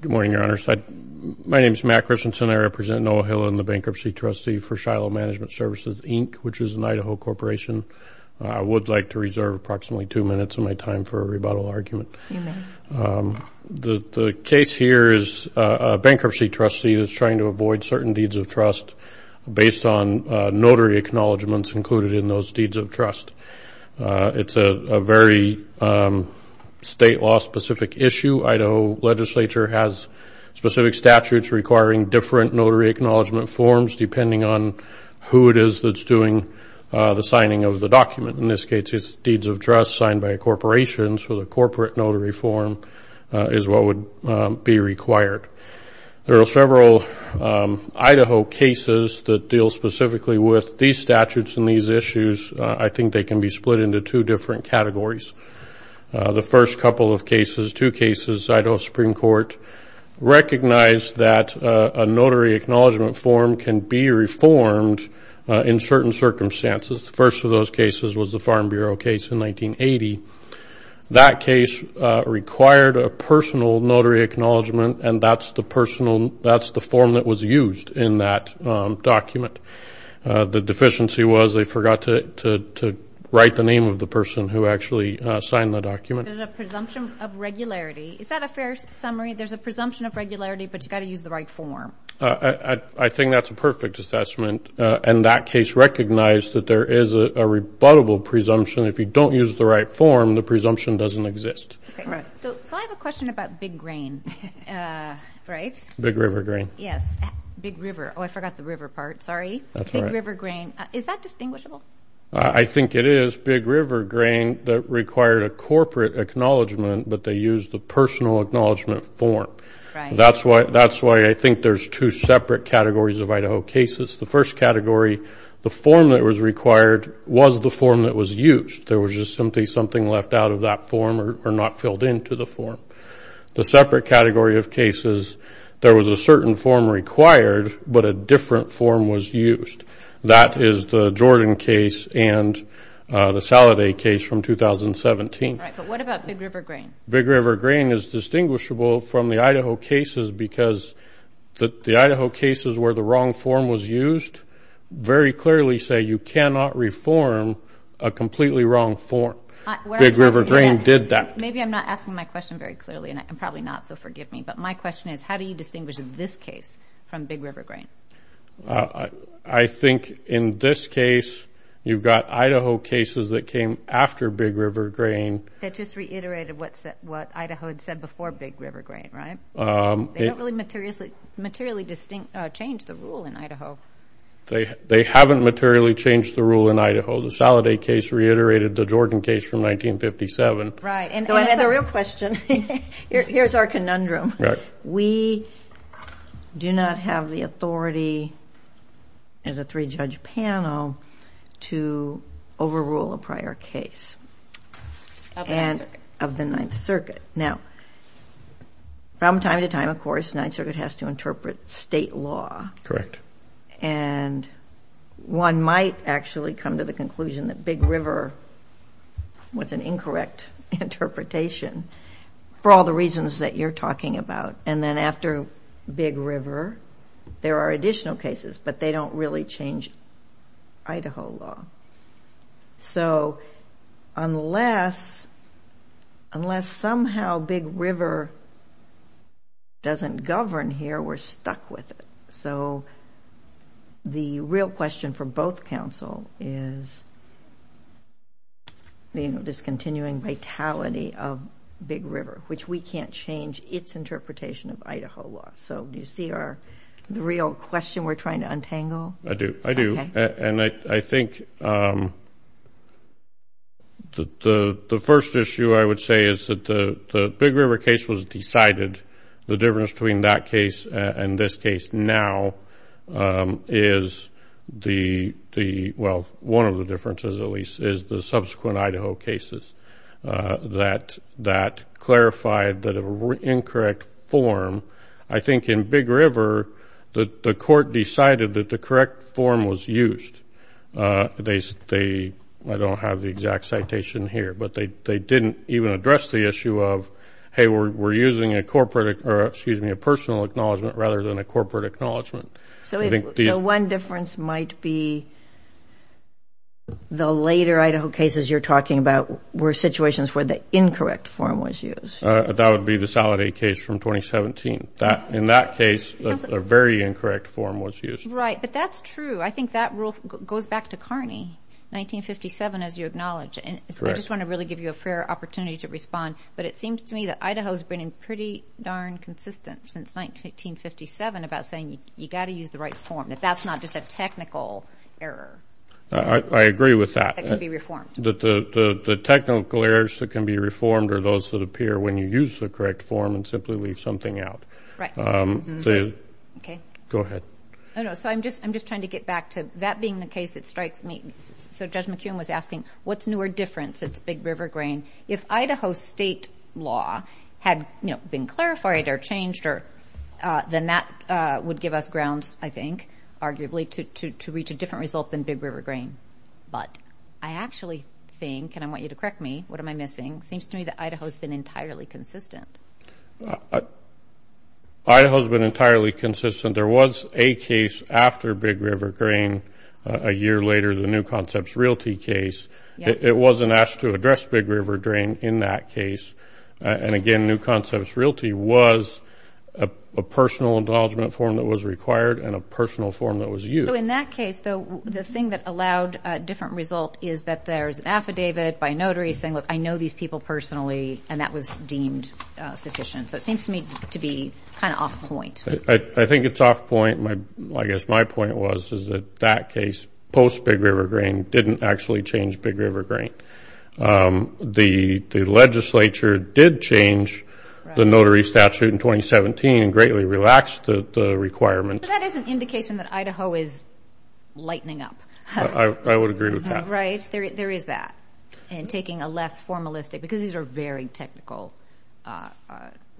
Good morning, Your Honors. My name is Matt Christensen. I represent Noah Hillen, the Bankruptcy Trustee for Shiloh Management Services, Inc., which is an Idaho corporation. I would like to reserve approximately two minutes of my time for a rebuttal argument. The case here is a bankruptcy trustee who is trying to avoid certain deeds of trust based on notary acknowledgments included in those deeds of trust. It's a very state law-specific issue. Idaho legislature has specific statutes requiring different notary acknowledgment forms depending on who it is that's doing the signing of the document. In this case, it's deeds of trust signed by a corporation, so the corporate notary form is what would be required. There are several Idaho cases that deal specifically with these statutes and these issues. I think they can be split into two different categories. The first couple of cases, two cases, Idaho Supreme Court recognized that a notary acknowledgment form can be reformed in certain circumstances. The first of those cases was the Farm Bureau case in 1980. That case required a personal notary acknowledgment, and that's the form that was used in that document. The deficiency was they forgot to write the name of the person who actually signed the document. There's a presumption of regularity. Is that a fair summary? There's a presumption of regularity, but you've got to use the right form. I think that's a perfect assessment. And that case recognized that there is a rebuttable presumption. If you don't use the right form, the presumption doesn't exist. So I have a question about Big Grain, right? Big River Grain. Yes, Big River. Oh, I forgot the river part. Sorry. Big River Grain. Is that distinguishable? I think it is Big River Grain that required a corporate acknowledgement, but they used the personal acknowledgment form. That's why I think there's two separate categories of Idaho cases. The first category, the form that was required was the form that was used. There was just simply something left out of that form or not filled into the form. The separate category of cases, there was a certain form required, but a different form was used. That is the Jordan case and the Saladay case from 2017. All right, but what about Big River Grain? Big River Grain is distinguishable from the Idaho cases because the Idaho cases where the wrong form was used very clearly say you cannot reform a completely wrong form. Big River Grain did that. Maybe I'm not asking my question very clearly, and probably not, so forgive me. But my question is how do you distinguish this case from Big River Grain? I think in this case you've got Idaho cases that came after Big River Grain. That just reiterated what Idaho had said before Big River Grain, right? They don't really materially change the rule in Idaho. They haven't materially changed the rule in Idaho. The Saladay case reiterated the Jordan case from 1957. Right. So I have a real question. Here's our conundrum. Right. We do not have the authority as a three-judge panel to overrule a prior case. Of the Ninth Circuit. Of the Ninth Circuit. Now, from time to time, of course, the Ninth Circuit has to interpret state law. Correct. And one might actually come to the conclusion that Big River was an incorrect interpretation for all the reasons that you're talking about. And then after Big River, there are additional cases, but they don't really change Idaho law. So unless somehow Big River doesn't govern here, we're stuck with it. So the real question for both counsel is this continuing vitality of Big River, which we can't change its interpretation of Idaho law. So do you see the real question we're trying to untangle? I do. I do. And I think the first issue I would say is that the Big River case was decided. The difference between that case and this case now is the, well, one of the differences, at least, is the subsequent Idaho cases that clarified the incorrect form. I think in Big River, the court decided that the correct form was used. I don't have the exact citation here, but they didn't even address the issue of, hey, we're using a personal acknowledgment rather than a corporate acknowledgment. So one difference might be the later Idaho cases you're talking about were situations where the incorrect form was used. That would be the Saladay case from 2017. In that case, a very incorrect form was used. Right, but that's true. I think that rule goes back to Carney, 1957, as you acknowledge. And so I just want to really give you a fair opportunity to respond. But it seems to me that Idaho has been pretty darn consistent since 1957 about saying you've got to use the right form, that that's not just a technical error. I agree with that. That can be reformed. The technical errors that can be reformed are those that appear when you use the correct form and simply leave something out. Right. Okay. Go ahead. So I'm just trying to get back to that being the case that strikes me. So Judge McKeown was asking, what's newer difference? It's Big River grain. If Idaho state law had been clarified or changed, then that would give us grounds, I think, arguably, to reach a different result than Big River grain. But I actually think, and I want you to correct me, what am I missing? It seems to me that Idaho has been entirely consistent. Idaho has been entirely consistent. There was a case after Big River grain a year later, the New Concepts Realty case. It wasn't asked to address Big River drain in that case. And, again, New Concepts Realty was a personal acknowledgement form that was required and a personal form that was used. So in that case, though, the thing that allowed a different result is that there's an affidavit by a notary saying, look, I know these people personally, and that was deemed sufficient. So it seems to me to be kind of off point. I think it's off point. I guess my point was is that that case, post Big River grain, didn't actually change Big River grain. The legislature did change the notary statute in 2017 and greatly relaxed the requirements. That is an indication that Idaho is lightening up. I would agree with that. Right, there is that, and taking a less formalistic, because these are very technical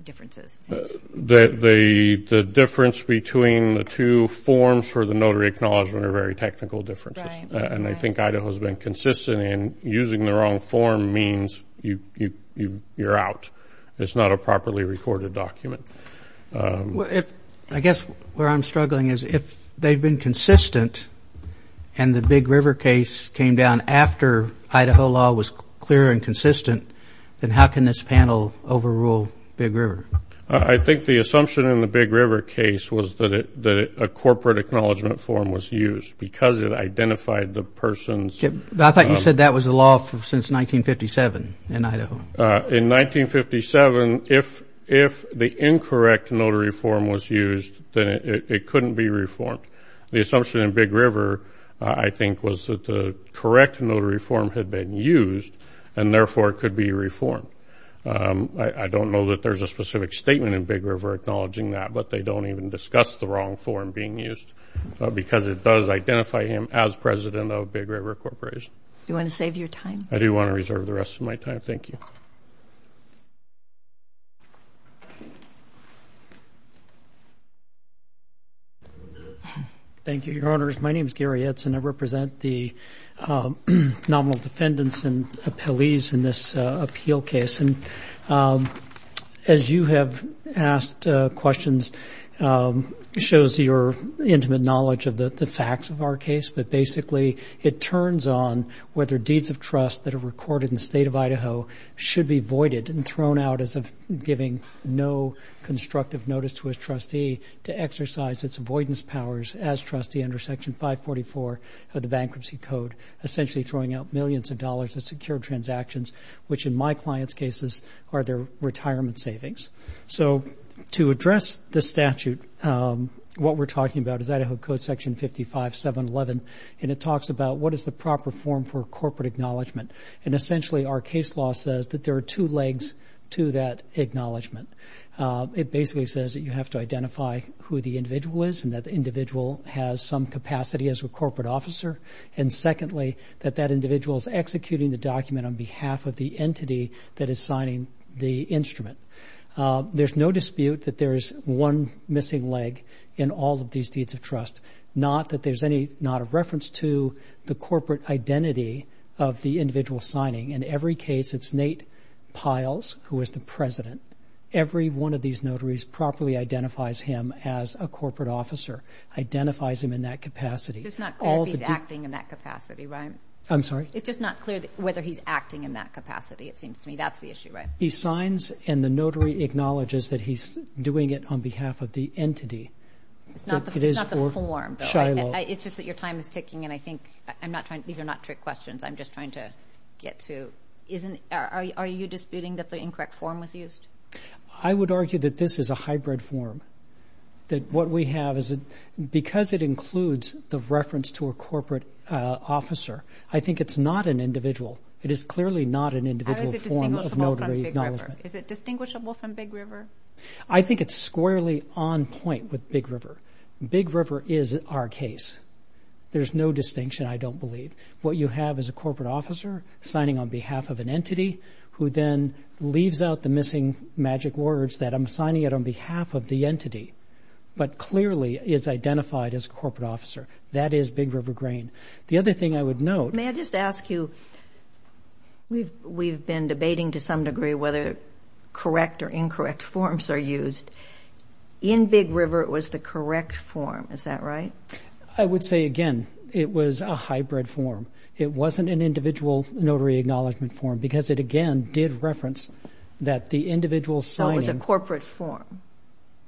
differences, it seems. The difference between the two forms for the notary acknowledgement are very technical differences. Right. And I think Idaho has been consistent in using the wrong form means you're out. It's not a properly recorded document. I guess where I'm struggling is if they've been consistent and the Big River case came down after Idaho law was clear and consistent, then how can this panel overrule Big River? I think the assumption in the Big River case was that a corporate acknowledgement form was used because it identified the person's. I thought you said that was the law since 1957 in Idaho. In 1957, if the incorrect notary form was used, then it couldn't be reformed. The assumption in Big River, I think, was that the correct notary form had been used and, therefore, it could be reformed. I don't know that there's a specific statement in Big River acknowledging that, but they don't even discuss the wrong form being used because it does identify him as president of Big River Corporation. Do you want to save your time? I do want to reserve the rest of my time. Thank you. Thank you, Your Honors. My name is Gary Itz, and I represent the nominal defendants and appellees in this appeal case. And as you have asked questions, it shows your intimate knowledge of the facts of our case, but basically it turns on whether deeds of trust that are recorded in the state of Idaho should be voided and thrown out as giving no constructive notice to a trustee to exercise its avoidance powers as trustee under Section 544 of the Bankruptcy Code, essentially throwing out millions of dollars of secured transactions, which in my client's cases are their retirement savings. So to address the statute, what we're talking about is Idaho Code Section 55711, and it talks about what is the proper form for corporate acknowledgment. And essentially our case law says that there are two legs to that acknowledgment. It basically says that you have to identify who the individual is and that the individual has some capacity as a corporate officer, and secondly that that individual is executing the document on behalf of the entity that is signing the instrument. There's no dispute that there is one missing leg in all of these deeds of trust, not that there's not a reference to the corporate identity of the individual signing. In every case, it's Nate Piles, who is the president. Every one of these notaries properly identifies him as a corporate officer, identifies him in that capacity. It's just not clear if he's acting in that capacity, right? I'm sorry? It's just not clear whether he's acting in that capacity, it seems to me. That's the issue, right? He signs, and the notary acknowledges that he's doing it on behalf of the entity. It's not the form, though, right? It's just that your time is ticking, and I think I'm not trying to – these are not trick questions. I'm just trying to get to – are you disputing that the incorrect form was used? I would argue that this is a hybrid form, that what we have is – because it includes the reference to a corporate officer, I think it's not an individual. It is clearly not an individual form of notary acknowledgment. Or is it distinguishable from Big River? Is it distinguishable from Big River? I think it's squarely on point with Big River. Big River is our case. There's no distinction, I don't believe. What you have is a corporate officer signing on behalf of an entity who then leaves out the missing magic words that I'm signing it on behalf of the entity, but clearly is identified as a corporate officer. That is Big River Grain. The other thing I would note – May I just ask you – we've been debating to some degree whether correct or incorrect forms are used. In Big River, it was the correct form. Is that right? I would say, again, it was a hybrid form. It wasn't an individual notary acknowledgment form because it, again, did reference that the individual signing – So it was a corporate form.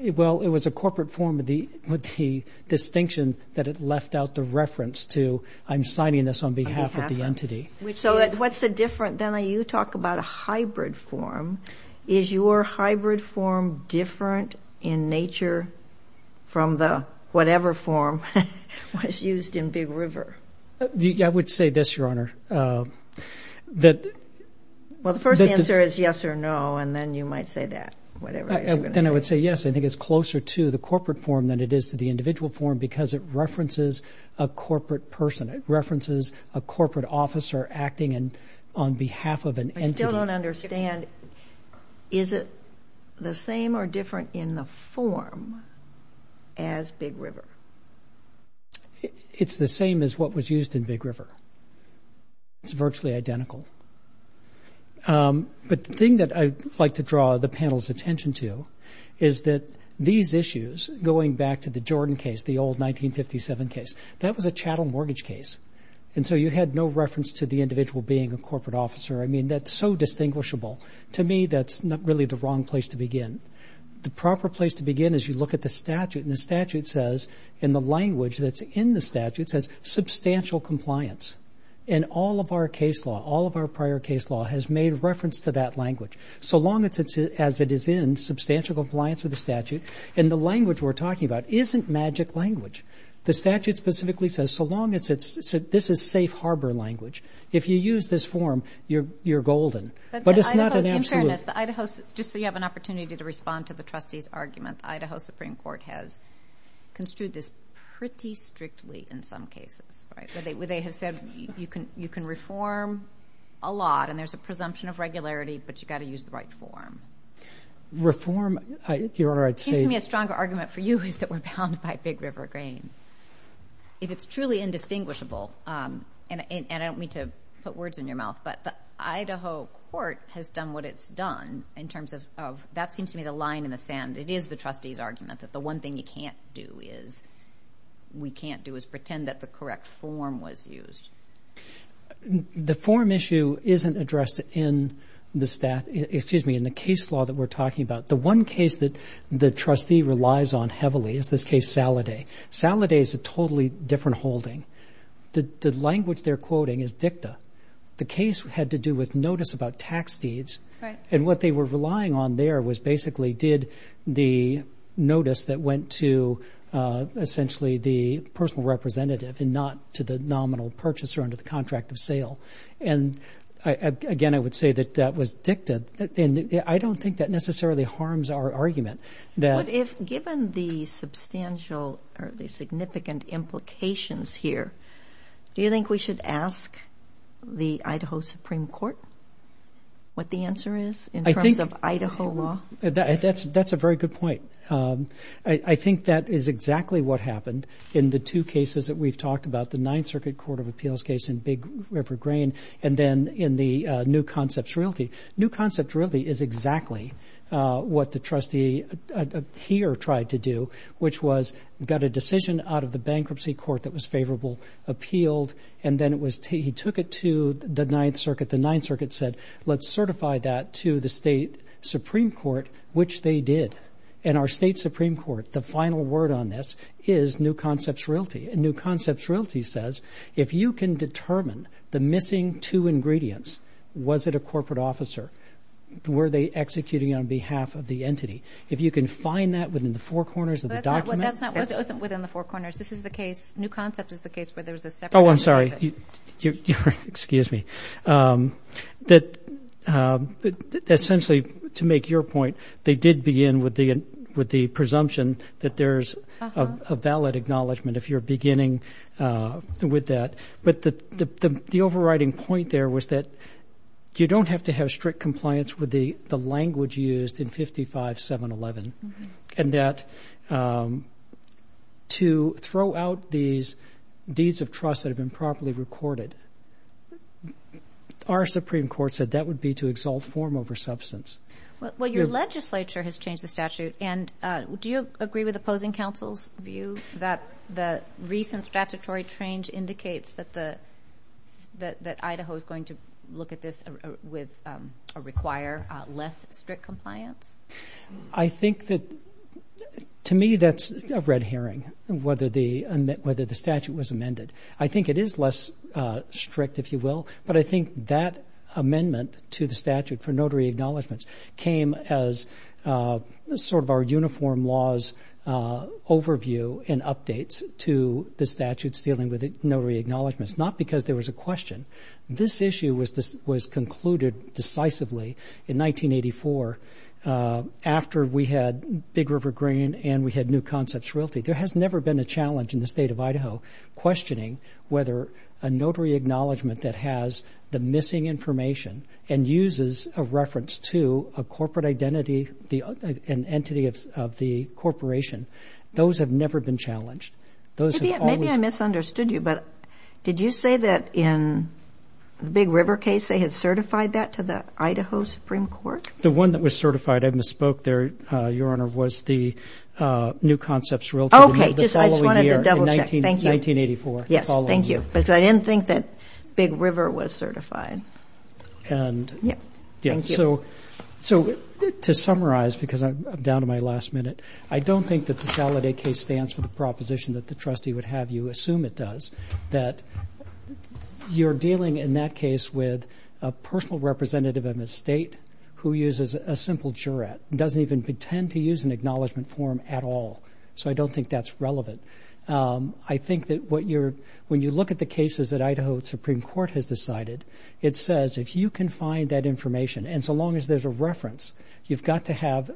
Well, it was a corporate form with the distinction that it left out the reference to I'm signing this on behalf of the entity. So what's the difference? Then you talk about a hybrid form. Is your hybrid form different in nature from the whatever form was used in Big River? I would say this, Your Honor. Well, the first answer is yes or no, and then you might say that, whatever you're going to say. Then I would say yes. I think it's closer to the corporate form than it is to the individual form because it references a corporate person. It references a corporate officer acting on behalf of an entity. I don't understand. Is it the same or different in the form as Big River? It's the same as what was used in Big River. It's virtually identical. But the thing that I'd like to draw the panel's attention to is that these issues, going back to the Jordan case, the old 1957 case, that was a chattel mortgage case. And so you had no reference to the individual being a corporate officer. I mean, that's so distinguishable. To me, that's really the wrong place to begin. The proper place to begin is you look at the statute, and the statute says in the language that's in the statute says substantial compliance. And all of our case law, all of our prior case law has made reference to that language. So long as it is in substantial compliance with the statute, and the language we're talking about isn't magic language. The statute specifically says so long as it's safe harbor language. If you use this form, you're golden. But it's not an absolute. In fairness, Idaho, just so you have an opportunity to respond to the trustee's argument, Idaho Supreme Court has construed this pretty strictly in some cases, right, where they have said you can reform a lot, and there's a presumption of regularity, but you've got to use the right form. Reform, Your Honor, I'd say. It seems to me a stronger argument for you is that we're bound by Big River grain. If it's truly indistinguishable, and I don't mean to put words in your mouth, but the Idaho court has done what it's done in terms of that seems to me the line in the sand. It is the trustee's argument that the one thing you can't do is, we can't do is pretend that the correct form was used. The form issue isn't addressed in the case law that we're talking about. The one case that the trustee relies on heavily is this case Saladay. Saladay is a totally different holding. The language they're quoting is dicta. The case had to do with notice about tax deeds, and what they were relying on there was basically did the notice that went to, essentially, the personal representative and not to the nominal purchaser under the contract of sale. And, again, I would say that that was dicta, and I don't think that necessarily harms our argument. Given the substantial or the significant implications here, do you think we should ask the Idaho Supreme Court what the answer is in terms of Idaho law? That's a very good point. I think that is exactly what happened in the two cases that we've talked about, the Ninth Circuit Court of Appeals case in Big River Grain and then in the New Concepts Realty. New Concepts Realty is exactly what the trustee here tried to do, which was got a decision out of the bankruptcy court that was favorable, appealed, and then he took it to the Ninth Circuit. The Ninth Circuit said, let's certify that to the state supreme court, which they did. And our state supreme court, the final word on this is New Concepts Realty. And New Concepts Realty says, if you can determine the missing two ingredients, was it a corporate officer? Were they executing on behalf of the entity? If you can find that within the four corners of the document. That's not within the four corners. This is the case, New Concepts is the case where there's a separate. Oh, I'm sorry. Excuse me. Essentially, to make your point, they did begin with the presumption that there's a valid acknowledgement, if you're beginning with that. But the overriding point there was that you don't have to have strict compliance with the language used in 55-711. And that to throw out these deeds of trust that have been properly recorded, our supreme court said that would be to exalt form over substance. Well, your legislature has changed the statute. And do you agree with opposing counsel's view that the recent statutory change indicates that Idaho is going to look at this with or require less strict compliance? I think that, to me, that's a red herring, whether the statute was amended. I think it is less strict, if you will. But I think that amendment to the statute for notary acknowledgments came as sort of our uniform law's overview and updates to the statute's dealing with notary acknowledgments, not because there was a question. This issue was concluded decisively in 1984 after we had Big River Green and we had New Concepts Realty. There has never been a challenge in the state of Idaho questioning whether a notary acknowledgement that has the missing information and uses a reference to a corporate identity, an entity of the corporation. Those have never been challenged. Maybe I misunderstood you, but did you say that in the Big River case they had certified that to the Idaho Supreme Court? The one that was certified, I misspoke there, Your Honor, was the New Concepts Realty. Okay. I just wanted to double check. In 1984. Yes. Thank you. Because I didn't think that Big River was certified. Thank you. To summarize, because I'm down to my last minute, I don't think that the Saladay case stands for the proposition that the trustee would have you assume it does, that you're dealing in that case with a personal representative of the state who uses a simple juror and doesn't even pretend to use an acknowledgment form at all. So I don't think that's relevant. I think that when you look at the cases that Idaho Supreme Court has decided, it says if you can find that information, and so long as there's a reference, you've got to have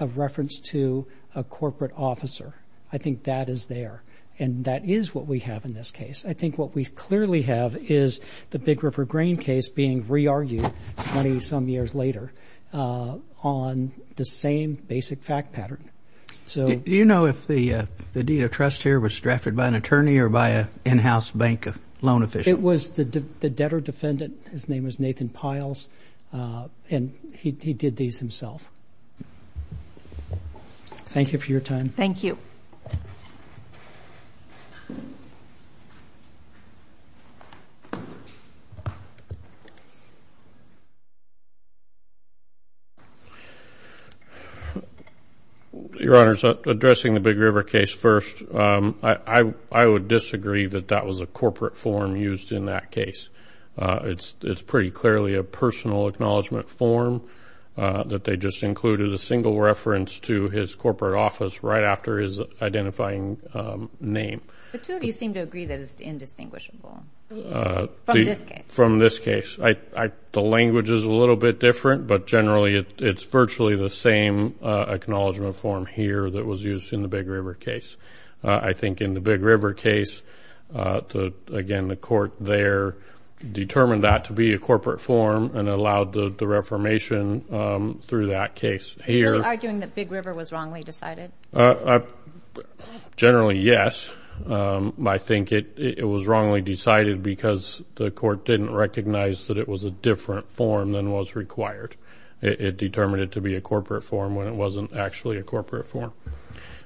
a reference to a corporate officer. I think that is there, and that is what we have in this case. I think what we clearly have is the Big River Grain case being re-argued 20-some years later on the same basic fact pattern. Do you know if the deed of trust here was drafted by an attorney or by an in-house bank loan official? It was the debtor-defendant. His name was Nathan Piles, and he did these himself. Thank you for your time. Thank you. Your Honors, addressing the Big River case first, I would disagree that that was a corporate form used in that case. It's pretty clearly a personal acknowledgment form that they just included a single reference to his corporate office right after his identifying name. The two of you seem to agree that it's indistinguishable from this case. From this case. The language is a little bit different, but generally it's virtually the same acknowledgment form here that was used in the Big River case. I think in the Big River case, again, the court there determined that to be a corporate form and allowed the reformation through that case. Are you arguing that Big River was wrongly decided? Generally, yes. I think it was wrongly decided because the court didn't recognize that it was a different form than was required. It determined it to be a corporate form when it wasn't actually a corporate form.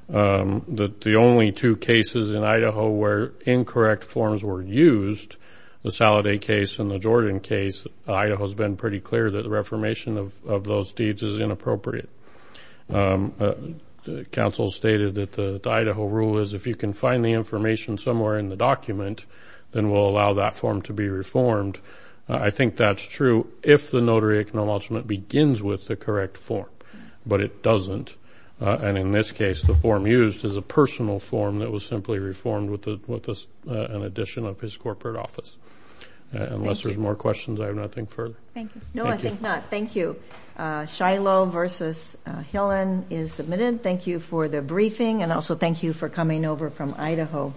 The only two cases in Idaho where incorrect forms were used, the Saladay case and the Jordan case, Idaho has been pretty clear that the reformation of those deeds is inappropriate. Counsel stated that the Idaho rule is if you can find the information somewhere in the document, then we'll allow that form to be reformed. I think that's true if the notary acknowledgment begins with the correct form, but it doesn't. In this case, the form used is a personal form that was simply reformed with an addition of his corporate office. Unless there's more questions, I have nothing further. No, I think not. Thank you. Shiloh v. Hillen is submitted. Thank you for the briefing, and also thank you for coming over from Idaho.